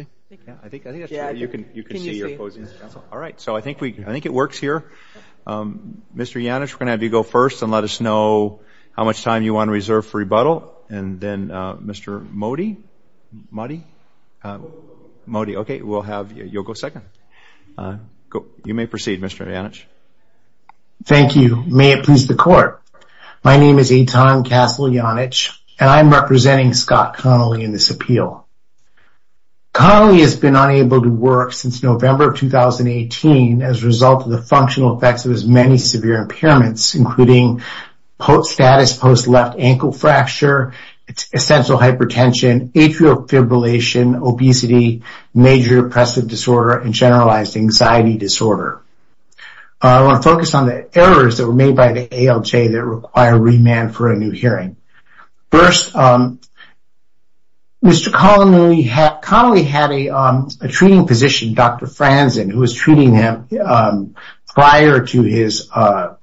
I think I think you can you can see you're posing all right so I think we I think it works here. Mr. Janich we're gonna have you go first and let us know how much time you want to reserve for rebuttal and then Mr. Mody? Mody? Mody okay we'll have you you'll go second. Go you may proceed Mr. Janich. Thank you may it please the court. My name is Eitan Castle Janich and I'm representing Scott Connelly in this appeal. Connelly has been unable to work since November of 2018 as a result of the functional effects of as many severe impairments including post-status post left ankle fracture, essential hypertension, atrial fibrillation, obesity, major depressive disorder, and generalized anxiety disorder. I want to focus on the errors that were made by ALJ that require remand for a new hearing. First Mr. Connelly had a treating physician Dr. Franzen who was treating him prior to his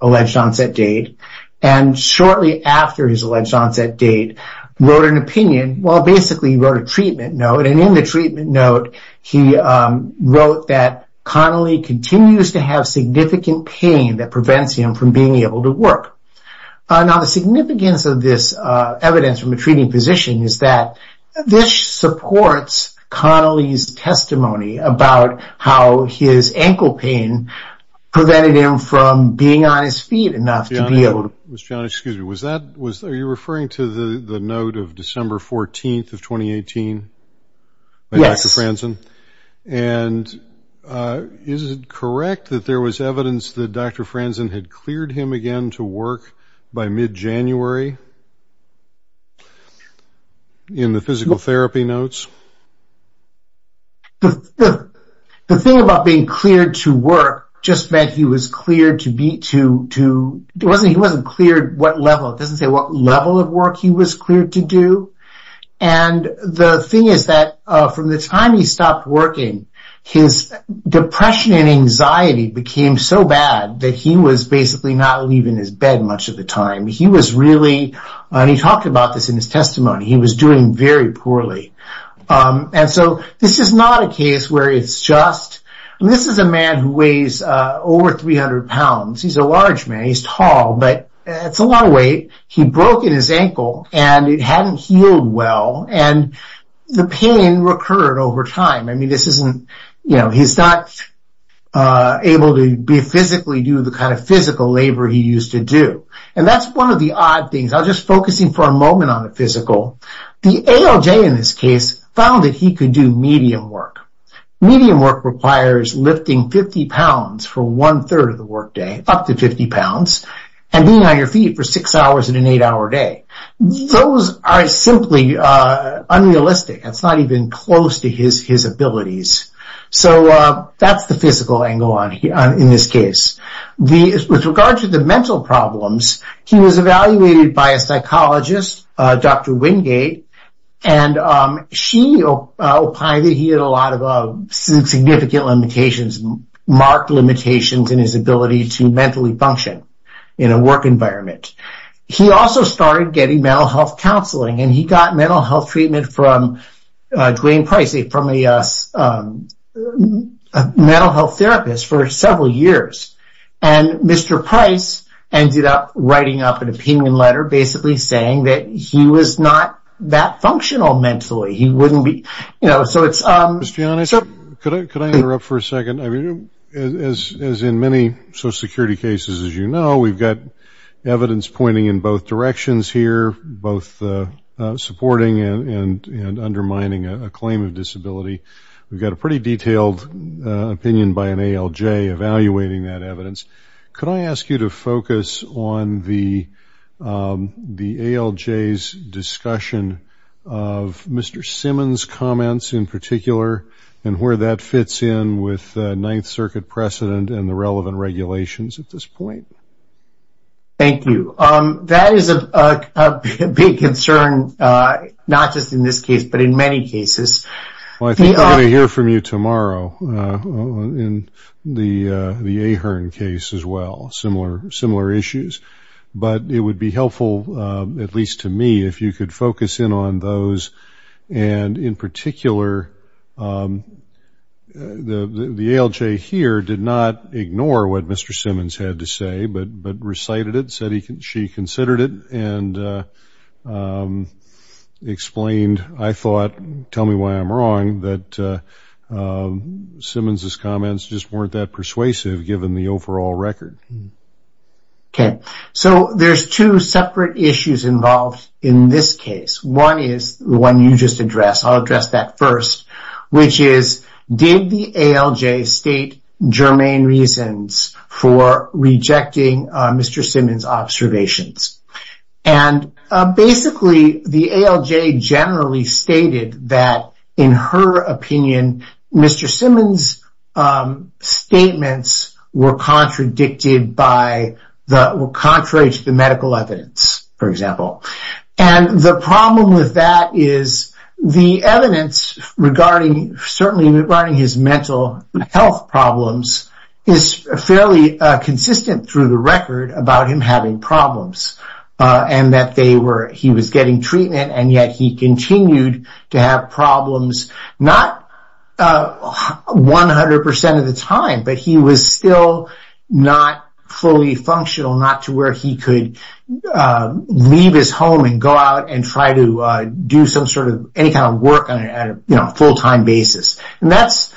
alleged onset date and shortly after his alleged onset date wrote an opinion. Well basically he wrote a treatment note and in the treatment note he wrote that Connelly continues to have significant pain that prevents him from being able to work. Now the significance of this evidence from a treating physician is that this supports Connelly's testimony about how his ankle pain prevented him from being on his feet enough to be able to. Mr. Janich excuse me was that was are you referring to the note of December 14th of 2018 by Dr. Franzen? Yes. And is it correct that there was evidence that Dr. Franzen had cleared him again to work by mid-January in the physical therapy notes? The thing about being cleared to work just meant he was cleared to be to to there wasn't he wasn't cleared what level it doesn't say what level of work he was cleared to do and the thing is that from the time he stopped working his depression and anxiety became so bad that he was basically not leaving his bed much of the time he was really and he talked about this in his testimony he was doing very poorly and so this is not a case where it's just this is a man who weighs over 300 pounds he's a large man he's but it's a lot of weight he broke in his ankle and it hadn't healed well and the pain recurred over time I mean this isn't you know he's not able to be physically do the kind of physical labor he used to do and that's one of the odd things I'll just focusing for a moment on the physical the ALJ in this case found that he could do medium work medium work requires lifting 50 pounds for one-third of the workday up to 50 pounds and being on your feet for six hours in an eight-hour day those are simply unrealistic it's not even close to his his abilities so that's the physical angle on here in this case the regard to the mental problems he was evaluated by a psychologist dr. Wingate and she opined that he had a lot of significant limitations marked limitations in his ability to mentally function in a work environment he also started getting mental health counseling and he got mental health treatment from Dwayne Price from a mental health therapist for several years and mr. Price ended up writing up an opinion letter basically saying that he was not that functional mentally he wouldn't be you know so it's um it's Janice could I interrupt for a second I mean as in many social security cases as you know we've got evidence pointing in both directions here both supporting and undermining a claim of disability we've got a pretty detailed opinion by an ALJ evaluating that evidence could I ask you to focus on the the ALJ's discussion of mr. Simmons comments in particular and where that fits in with Ninth Circuit precedent and the relevant regulations at this point thank you um that is a big concern not just in this case but in many cases I hear from you tomorrow in the the Ahern case as well similar similar issues but it would be helpful at least to me if you could focus in on those and in particular the the ALJ here did not ignore what mr. Simmons had to say but but recited it said he can she considered it and explained I thought tell me why I'm wrong that Simmons's comments just weren't that persuasive given the overall record okay so there's two separate issues involved in this case one is the one you just addressed I'll address that first which is did the ALJ state germane reasons for rejecting mr. Simmons observations and basically the ALJ generally stated that in her opinion mr. Simmons statements were contradicted by the contrary to the medical evidence for example and the problem with that is the evidence regarding certainly regarding his mental health problems is fairly consistent through the record about him having problems and that they were he was and yet he continued to have problems not 100% of the time but he was still not fully functional not to where he could leave his home and go out and try to do some sort of any kind of work on a full-time basis and that's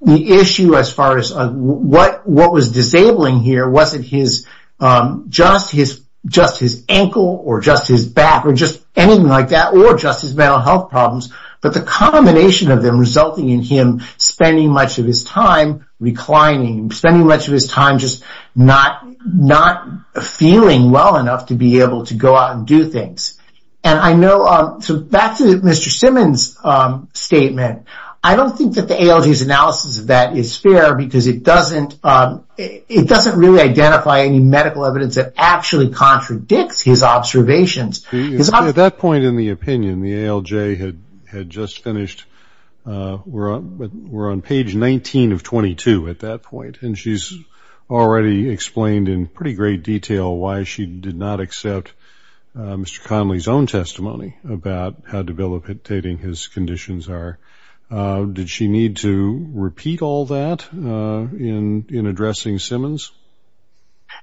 the issue as far as what what was disabling here wasn't his just his just his ankle or just his back or just anything like that or just his mental health problems but the combination of them resulting in him spending much of his time reclining spending much of his time just not not feeling well enough to be able to go out and do things and I know that's mr. Simmons statement I don't think that the ALJ's analysis of that is fair because it doesn't it doesn't really identify any medical evidence that actually contradicts his observations at that point in the opinion the ALJ had had just finished we're on but we're on page 19 of 22 at that point and she's already explained in pretty great detail why she did not accept mr. Connelly's own testimony about how debilitating his conditions are did she need to repeat all that in in addressing Simmons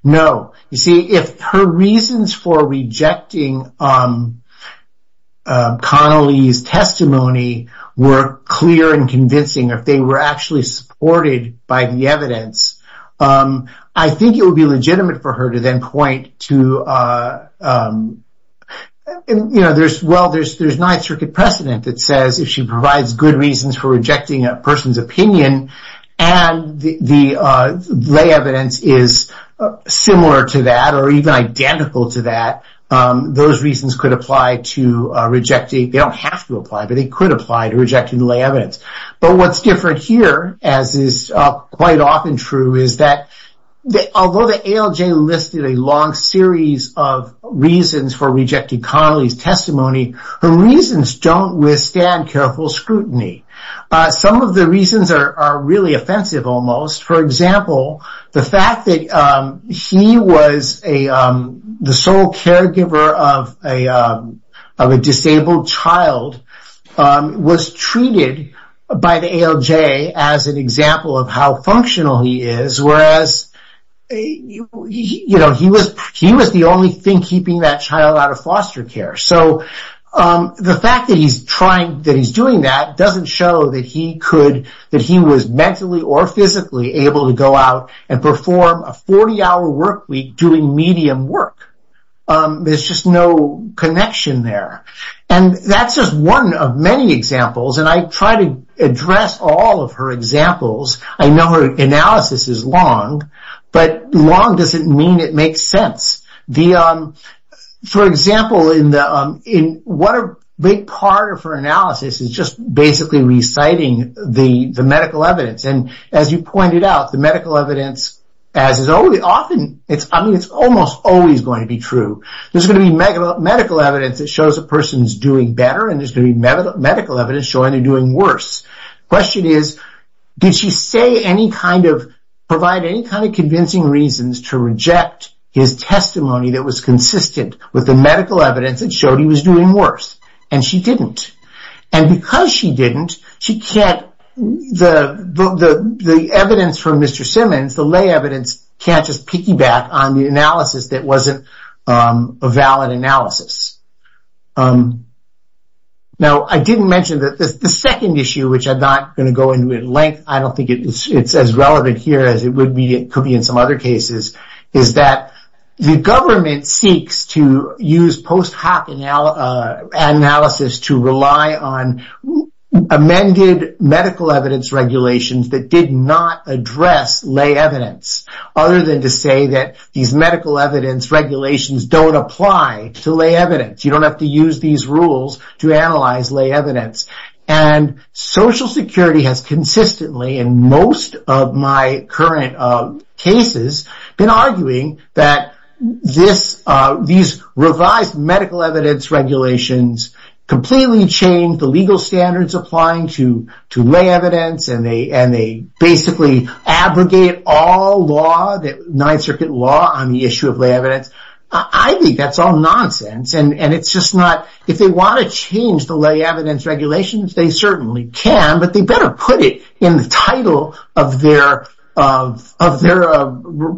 no you see if her reasons for rejecting Connelly's testimony were clear and convincing if they were actually supported by the evidence I think it would be legitimate for her to then point to you know there's well there's not a circuit precedent that says if she provides good reasons for rejecting a person's opinion and the lay evidence is similar to that or even identical to that those reasons could apply to rejecting they don't have to apply but they could apply to rejecting the lay evidence but what's different here as is quite often true is that although the ALJ listed a long series of reasons for rejecting Connelly's testimony the reasons don't withstand careful scrutiny some of the reasons are really offensive almost for example the fact that he was a the sole caregiver of a disabled child was treated by the ALJ as an example of how functional he is whereas you know he was he was the only thing keeping that child out of foster care so the fact that he's trying that he's doing that doesn't show that he could that he was mentally or physically able to go out and perform a 40-hour workweek doing medium work there's just no connection there and that's just one of many examples and I try to address all of her examples I know her analysis is long but long doesn't mean it makes sense for example in the in what a big part of her analysis is just basically reciting the the medical evidence and as you pointed out the medical evidence as is only often it's I mean it's almost always going to be true there's gonna be medical medical evidence that shows a person is doing better and there's gonna be medical evidence showing they're doing worse question is did she say any kind of provide any kind of convincing reasons to reject his testimony that was consistent with the medical evidence that showed he was doing worse and she didn't and because she didn't she can't the the the evidence from mr. Simmons the lay evidence can't just piggyback on the analysis that wasn't a valid analysis now I didn't mention that this the second issue which I'm not gonna go into it length I don't think it's as relevant here as it would be it could be in some other cases is that the government seeks to use post-hoc analysis to rely on amended medical evidence regulations that did not address lay evidence other than to say that these medical evidence regulations don't apply to lay evidence you don't have to use these rules to analyze lay evidence and Social Security has consistently in most of my current cases been arguing that this these revised medical evidence regulations completely change the legal standards applying to to lay evidence and they and they basically abrogate all law that Ninth Circuit law on the issue of lay evidence I think that's all nonsense and and it's just not if they want to change the lay evidence regulations they certainly can but they better put it in the title of their of their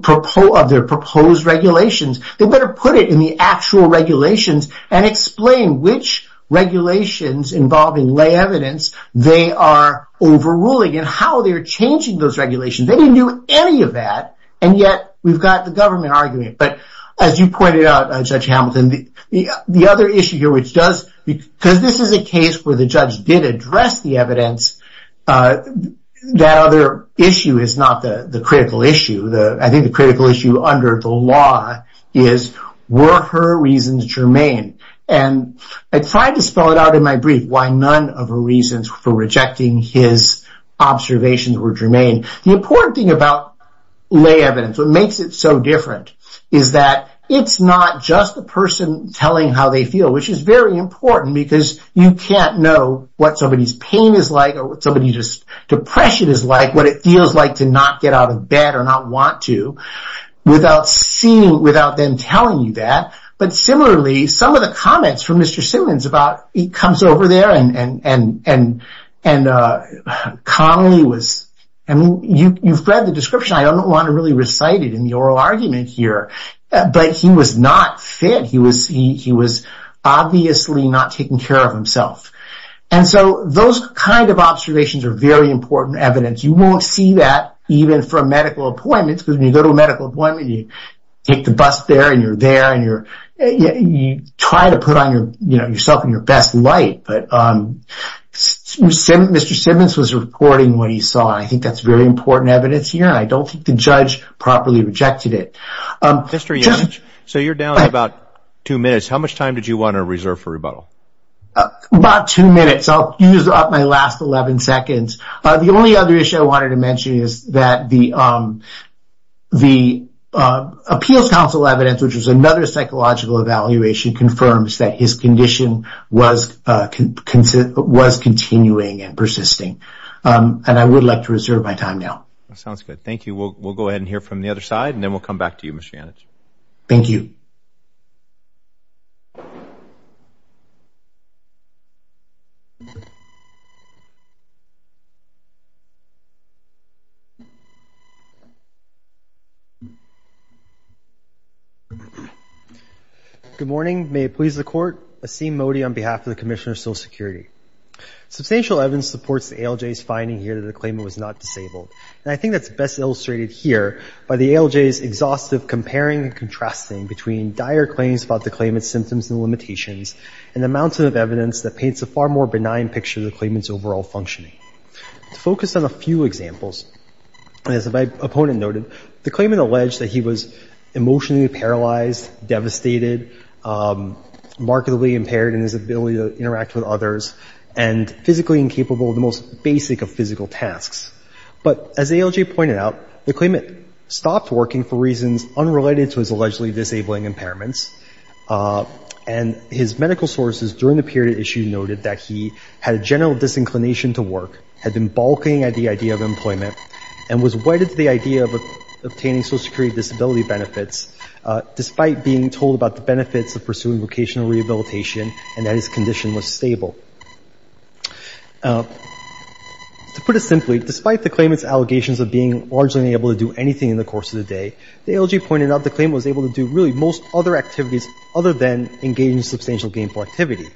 proposed their proposed regulations they better put it in the actual regulations and explain which regulations involving lay evidence they are overruling and how they're changing those regulations they didn't do any of that and yet we've got the government arguing but as you pointed out I'm such the other issue here which does because this is a case where the judge did address the evidence that other issue is not the the critical issue the I think the critical issue under the law is were her reasons germane and I tried to spell it out in my brief why none of her reasons for rejecting his observations were germane the important thing about lay evidence what makes it so different is that it's not just the person telling how they feel which is very important because you can't know what somebody's pain is like or what somebody just depression is like what it feels like to not get out of bed or not want to without seeing without them telling you that but similarly some of the comments from mr. Simmons about it comes over there and and and and and Connelly was and you you've read the description I don't want to really recite it in the argument here but he was not fit he was he was obviously not taking care of himself and so those kind of observations are very important evidence you won't see that even from medical appointments because when you go to a medical appointment you take the bus there and you're there and you're you try to put on your you know yourself in your best light but um mr. Simmons was recording what he saw I think that's very important evidence here I don't think the judge properly rejected it mr. young so you're down about two minutes how much time did you want to reserve for rebuttal about two minutes I'll use up my last 11 seconds the only other issue I wanted to mention is that the the Appeals Council evidence which is another psychological evaluation confirms that his condition was consistent was continuing and persisting and I would like to reserve my time now sounds good thank you we'll go ahead and hear from the other side and then we'll come back to you miss Janice thank you good morning may it please the court a seam Modi on behalf of the Commissioner of Social Security substantial evidence supports the ALJ is finding here that the claimant was not disabled and I think that's best illustrated here by the ALJ is exhaustive comparing and contrasting between dire claims about the claimant's symptoms and limitations and the mountain of evidence that paints a far more benign picture the claimants overall functioning to focus on a few examples as if I opponent noted the claimant alleged that he was emotionally paralyzed devastated markedly impaired in his ability to interact with others and physically incapable of the most basic of physical tasks but as ALJ pointed out the claimant stopped working for reasons unrelated to his allegedly disabling impairments and his medical sources during the period issue noted that he had a general disinclination to work had been balking at the idea of employment and was wedded to the idea of obtaining Social Security disability benefits despite being told about the benefits of pursuing vocational rehabilitation and that his condition was stable to put it simply despite the claimants allegations of being largely able to do anything in the course of the day the ALJ pointed out the claim was able to do really most other activities other than engaging substantial gainful activity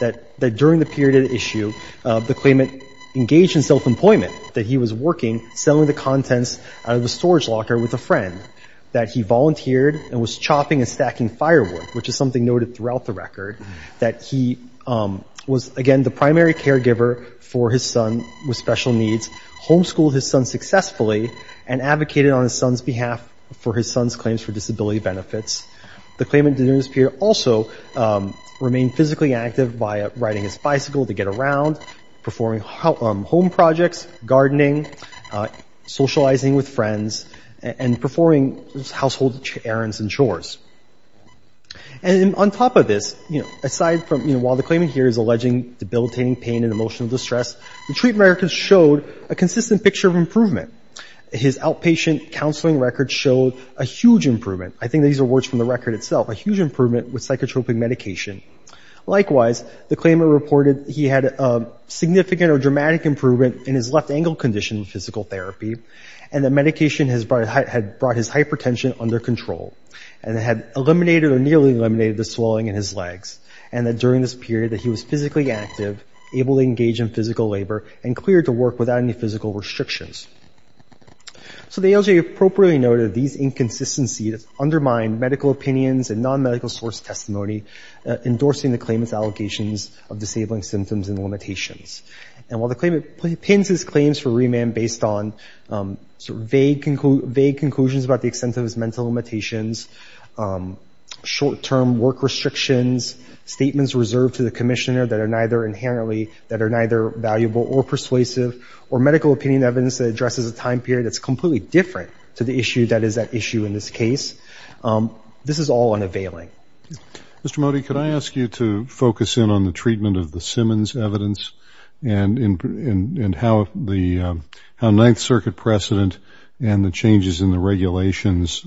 that that during the period of issue the claimant engaged in self-employment that he was working selling the contents of the storage locker with a friend that he volunteered and was chopping and stacking firewood which is something noted throughout the record that he was again the primary caregiver for his son with special needs homeschooled his son successfully and advocated on his son's behalf for his son's claims for disability benefits the claimant didn't appear also remain physically active by riding his bicycle to get around performing home projects gardening socializing with friends and performing household errands and chores and on top of this you know aside from you know while the claimant here is alleging debilitating pain and emotional distress the treatment records showed a consistent picture of improvement his outpatient counseling records showed a huge improvement I think these are words from the record itself a huge improvement with psychotropic medication likewise the claimant reported he had a significant or dramatic improvement in his left ankle condition physical therapy and the medication has brought his hypertension under control and had eliminated or nearly eliminated the swelling in his legs and that during this period that he was physically active able to engage in physical labor and cleared to work without any physical restrictions so the ALJ appropriately noted these inconsistencies undermine medical opinions and non medical source testimony endorsing the claimant's allegations of disabling symptoms and limitations and while the claimant pins his claims for remand based on vague conclusions about the extent of his mental limitations short-term work restrictions statements reserved to the Commissioner that are neither inherently that are neither valuable or persuasive or medical opinion evidence that addresses a time period that's completely different to the issue that is that issue in this case this is all unavailing. Mr. Mody could I ask you to focus in on the treatment of the Simmons evidence and in and how the Ninth Circuit precedent and the changes in the regulations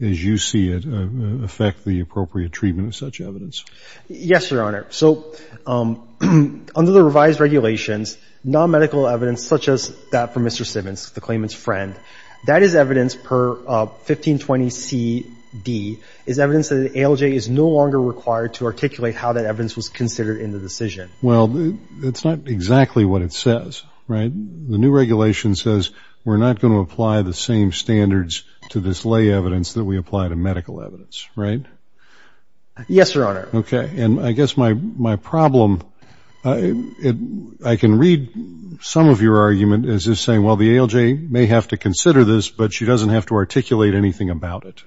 as you see it affect the appropriate treatment of such evidence? Yes your honor so under the revised regulations non-medical evidence such as that for Mr. Simmons the claimant's friend that is evidence per 1520 CD is evidence that ALJ is no longer required to articulate how that evidence was considered in the decision well it's not exactly what it says right the new regulation says we're not going to apply the same standards to this lay evidence that we apply to medical evidence right? Yes your honor. Okay and I guess my my problem it I can read some of your argument is just saying well the ALJ may have to consider this but she doesn't have to articulate anything about it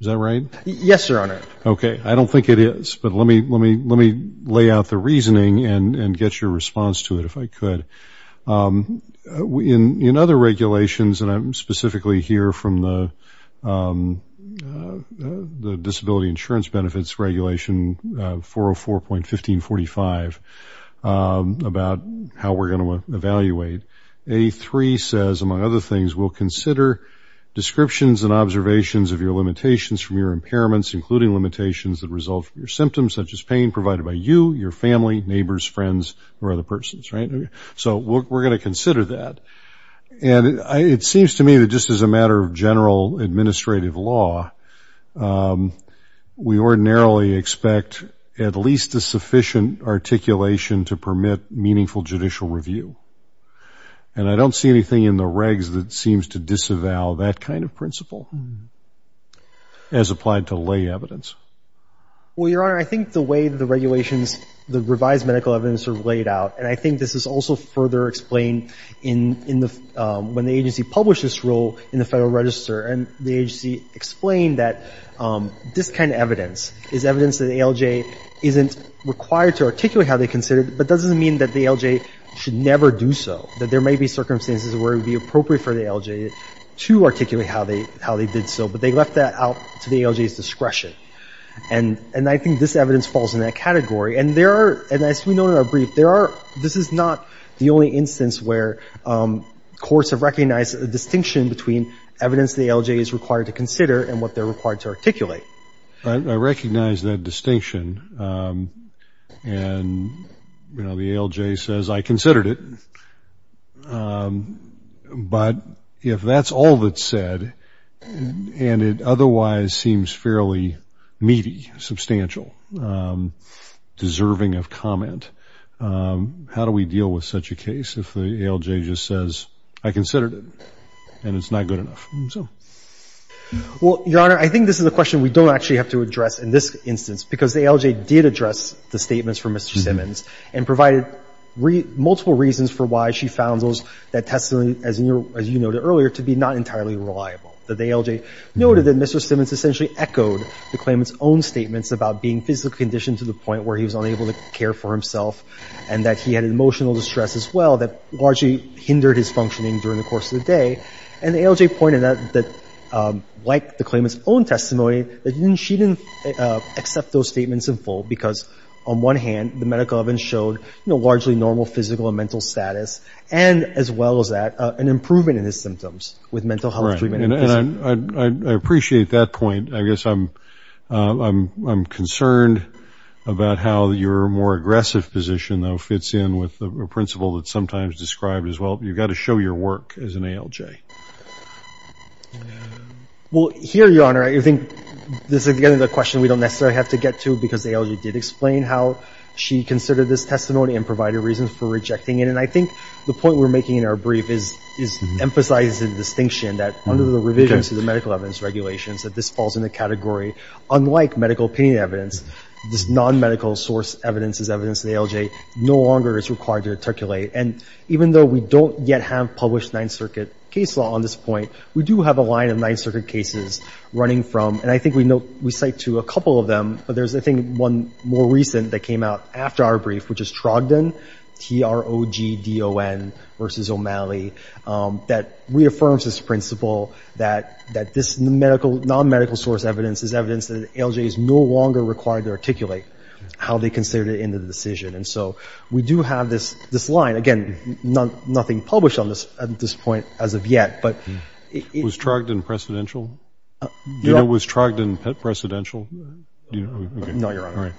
is that right? Yes your honor. Okay I don't think it is but let me let me let me lay out the reasoning and and get your response to it if I could. In in other regulations and I'm specifically here from the the disability insurance benefits regulation 404.1545 about how we're going to evaluate a three says among other things we'll consider descriptions and observations of your limitations from your impairments including limitations that result from your symptoms such as pain provided by you your family neighbors friends or other persons right so we're going to consider that and it seems to me that just as a matter of general administrative law we ordinarily expect at least a sufficient articulation to permit meaningful judicial review and I don't see anything in the regs that seems to disavow that kind of principle as applied to lay evidence. Well your honor I think the way the regulations the revised medical evidence are laid out and I think this is also further explained in in the when the agency published this rule in the Federal Register and the agency explained that this kind of evidence is evidence that ALJ isn't required to articulate how they considered but doesn't mean that the ALJ should never do so that there may be circumstances where it would be appropriate for the ALJ to articulate how they how they did so but they left that out to the ALJ's discretion and and I think this evidence falls in that category and there are and as we know in our brief there are this is not the only instance where courts have recognized a distinction between evidence the ALJ is required to consider and what they're required to articulate. I recognize that distinction and you know the ALJ says I considered it but if that's all that's said and it otherwise seems fairly meaty substantial deserving of comment how do we deal with such a case if the ALJ just says I considered it and it's not good enough so. Well your honor I think this is a question we don't actually have to address in this instance because the ALJ did address the statements from Mr. Simmons and provided multiple reasons for why she found those that testimony as you noted earlier to be not entirely reliable that the ALJ noted that Mr. Simmons essentially echoed the claimant's own statements about being physically conditioned to the point where he was unable to care for himself and that he had an emotional distress as well that largely hindered his functioning during the course of the day and the ALJ pointed out that like the claimant's own testimony that she didn't accept those statements in full because on one hand the medical evidence showed you know largely normal physical and mental status and as well as that an improvement in his symptoms with mental health treatment. I appreciate that point I guess I'm I'm concerned about how your more aggressive position though fits in with the principle that sometimes described as well you've got to show your work as an ALJ. Well here your honor I think this is again the question we don't necessarily have to get to because the ALJ did explain how she considered this testimony and provided reasons for rejecting it and I think the point we're making in our brief is is emphasizing the distinction that under the revisions to the medical evidence regulations that this falls in the category unlike medical opinion evidence this non-medical source evidence is evidence the ALJ no longer is required to articulate and even though we don't yet have published Ninth Circuit case law on this point we do have a line of Ninth Circuit cases running from and I think we know we cite to a couple of them but there's I think one more recent that came out after our brief which is Trogdon T-R-O-G-D-O-N versus O'Malley that reaffirms this principle that that this medical non-medical source evidence is evidence that ALJ is no longer required to articulate how they considered it in the decision and so we do have this this line again not nothing published on this at this point as of yet but it was Trogdon presidential it was Trogdon presidential if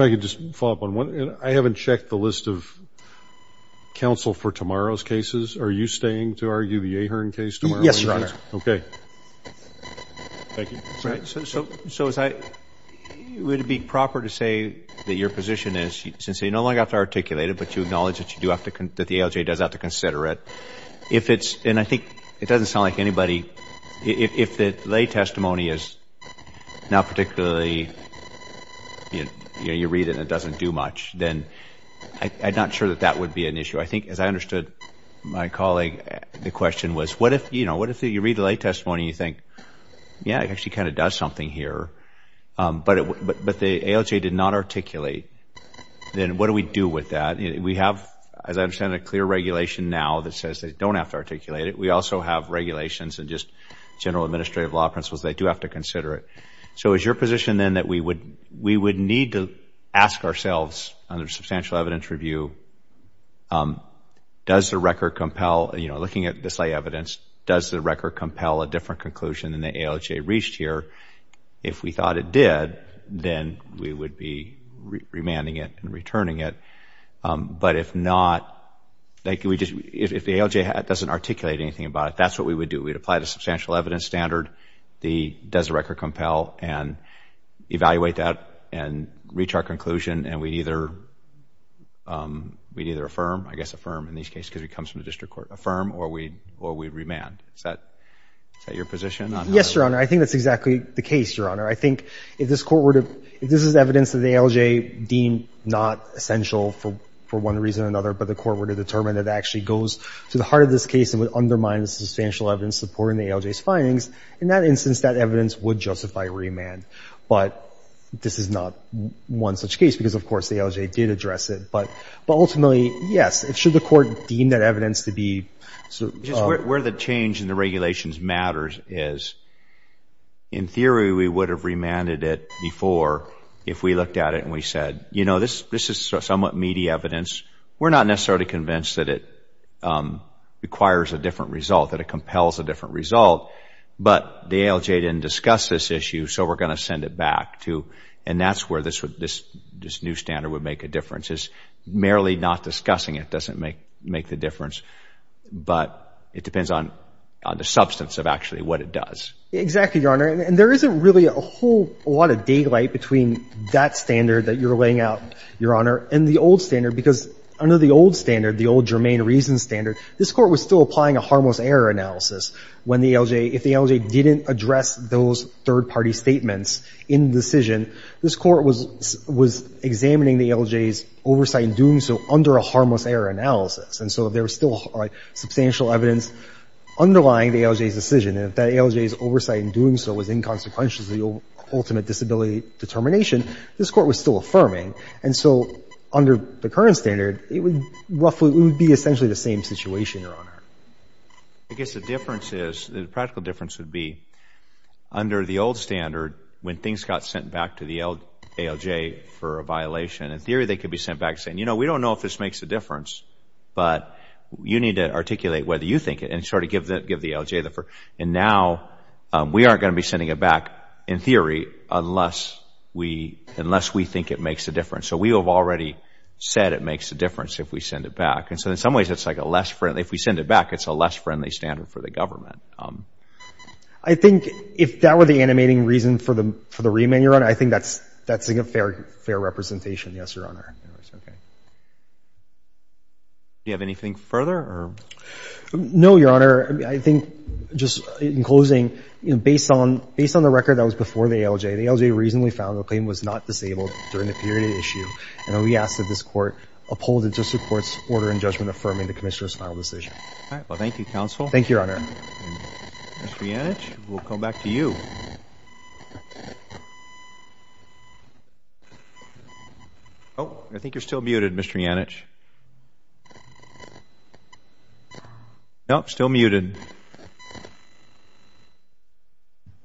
I could just follow up on one I haven't checked the list of counsel for tomorrow's cases are you staying to argue the Ahern case tomorrow yes your honor okay so so so as I would it be proper to say that your position is since they no longer have to articulate it but you acknowledge that you do have to that the ALJ does have to consider it if it's and I think it doesn't sound like anybody if the lay testimony is not particularly you know you read it and it doesn't do much then I'm not sure that that would be an issue I think as I understood my colleague the question was what if you know what if you read the lay testimony you think yeah it actually kind of does something here but it but the ALJ did not articulate then what do we do with that we have as I understand a clear regulation now that says they don't have to articulate it we also have regulations and just general administrative law principles they do have to consider it so is your position then that we would we would need to ask ourselves under substantial evidence review does the record compel you know looking at this lay evidence does the record compel a different conclusion than the ALJ reached here if we thought it did then we would be remanding it and turning it but if not thank you we just if the ALJ doesn't articulate anything about it that's what we would do we'd apply the substantial evidence standard the does the record compel and evaluate that and reach our conclusion and we'd either we'd either affirm I guess affirm in these case because it comes from the district court affirm or we or we'd remand is that your position yes your honor I think that's exactly the case your honor I think if this court were to this is evidence that the ALJ deemed not essential for for one reason or another but the court were to determine that actually goes to the heart of this case and would undermine the substantial evidence supporting the ALJ's findings in that instance that evidence would justify remand but this is not one such case because of course the ALJ did address it but but ultimately yes it should the court deem that evidence to be so where the change in the regulations matters is in theory we would have remanded it before if we looked at it and we said you know this this is somewhat meaty evidence we're not necessarily convinced that it requires a different result that it compels a different result but the ALJ didn't discuss this issue so we're gonna send it back to and that's where this would this this new standard would make a difference is merely not discussing it doesn't make make the difference but it depends on the substance of actually what it does exactly your honor and there isn't really a whole lot of daylight between that standard that you're laying out your honor and the old standard because under the old standard the old germane reason standard this court was still applying a harmless error analysis when the ALJ if the ALJ didn't address those third-party statements in decision this court was was examining the ALJ's oversight doing so under a harmless error analysis and so there was still substantial evidence underlying the ALJ's decision if that ALJ's oversight in doing so was inconsequential to the ultimate disability determination this court was still affirming and so under the current standard it would roughly would be essentially the same situation your honor I guess the difference is the practical difference would be under the old standard when things got sent back to the ALJ for a violation in theory they could be sent back saying you know we don't know if this makes a difference but you need to articulate whether you think it and sort of give that give the ALJ the for and now we aren't going to be sending it back in theory unless we unless we think it makes a difference so we have already said it makes a difference if we send it back and so in some ways it's like a less friendly if we send it back it's a less friendly standard for the government I think if that were the animating reason for the for the remand your honor I think that's a fair fair representation yes your honor you have anything further no your honor I think just in closing you know based on based on the record that was before the ALJ the ALJ reasonably found the claim was not disabled during the period of issue and we asked that this court uphold it just supports order and judgment affirming the Commissioner's final decision well thank you counsel thank your honor we'll come back to you oh I think you're still muted mr. Yannick nope still muted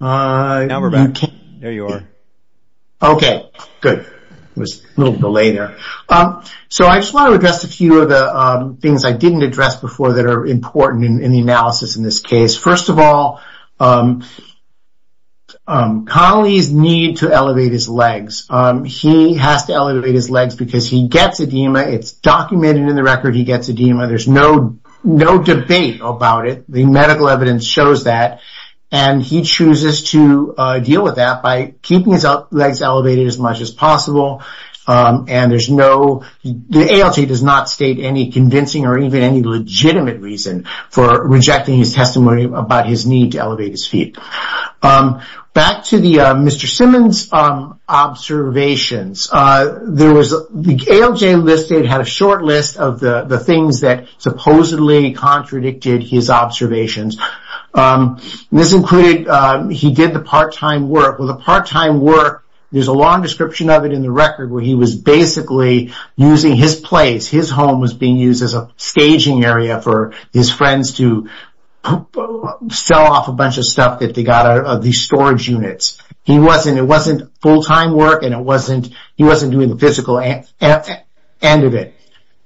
okay good was a little delay there so I just want to address a few of the things I didn't address before that are important in the analysis in this case first of all colleagues need to elevate his legs he has to elevate his legs because he gets edema it's documented in the record he gets edema there's no no debate about it the medical evidence shows that and he chooses to deal with that by keeping his legs elevated as much as possible and there's no the ALJ does not state any convincing or even any legitimate reason for rejecting his testimony about his need to elevate his feet back to the mr. Simmons observations there was the ALJ listed had a short list of the the things that supposedly contradicted his observations this included he did the part-time work with a part-time work there's a long description of it in the record where he was basically using his place his home was being used as a to sell off a bunch of stuff that they got out of these storage units he wasn't it wasn't full-time work and it wasn't he wasn't doing the physical end of it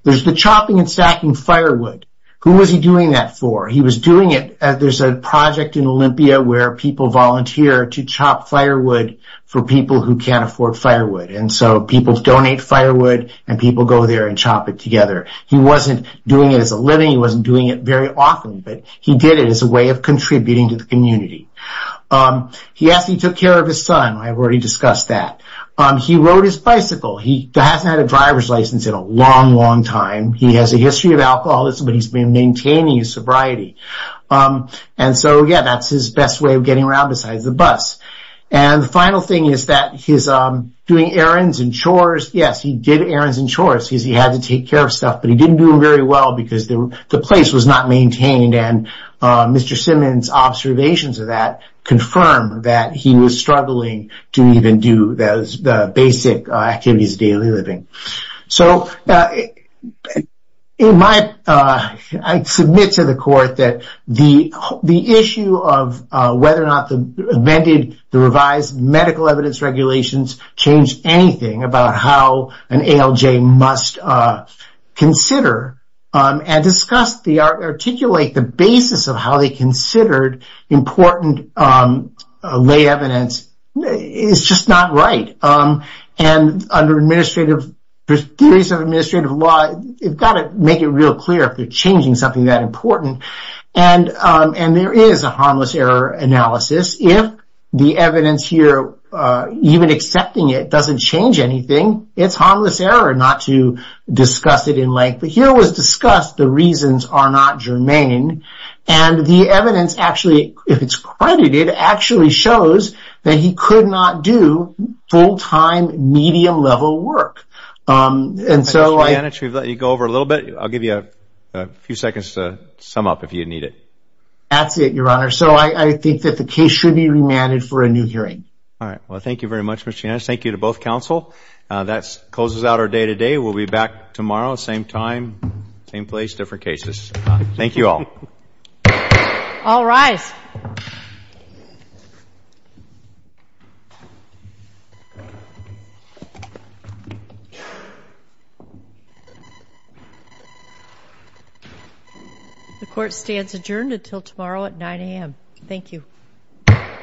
there's the chopping and stacking firewood who was he doing that for he was doing it as there's a project in Olympia where people volunteer to chop firewood for people who can't afford firewood and so people donate firewood and people go there and chop it together he wasn't doing it as a living he wasn't doing it very often but he did it as a way of contributing to the community he asked he took care of his son I've already discussed that he rode his bicycle he hasn't had a driver's license in a long long time he has a history of alcoholism but he's been maintaining his sobriety and so yeah that's his best way of getting around besides the bus and the final thing is that he's doing errands and chores yes he did errands and chores he had to take care of stuff but he didn't do him very well because the place was not maintained and Mr. Simmons observations of that confirm that he was struggling to even do those basic activities daily living so in my I submit to the court that the the issue of whether or not the amended the revised medical evidence regulations change anything about how an ALJ must consider and discuss the art articulate the basis of how they considered important lay evidence it's just not right and under administrative theories of administrative law you've got to make it real clear if they're changing something that important and and there is a harmless error analysis if the evidence here even accepting it doesn't change anything it's harmless error not to discuss it in length but here was discussed the reasons are not germane and the evidence actually if it's credited actually shows that he could not do full-time medium-level work and so I let you go over a little bit I'll give you a few seconds to sum up if you need it that's it your honor so I I think that the case should be remanded for a new hearing all right well thank you very much machine I thank you to both counsel that's closes out our day-to-day we'll be back tomorrow same time same place different cases thank you all all right the court stands adjourned until tomorrow at 9 a.m. thank you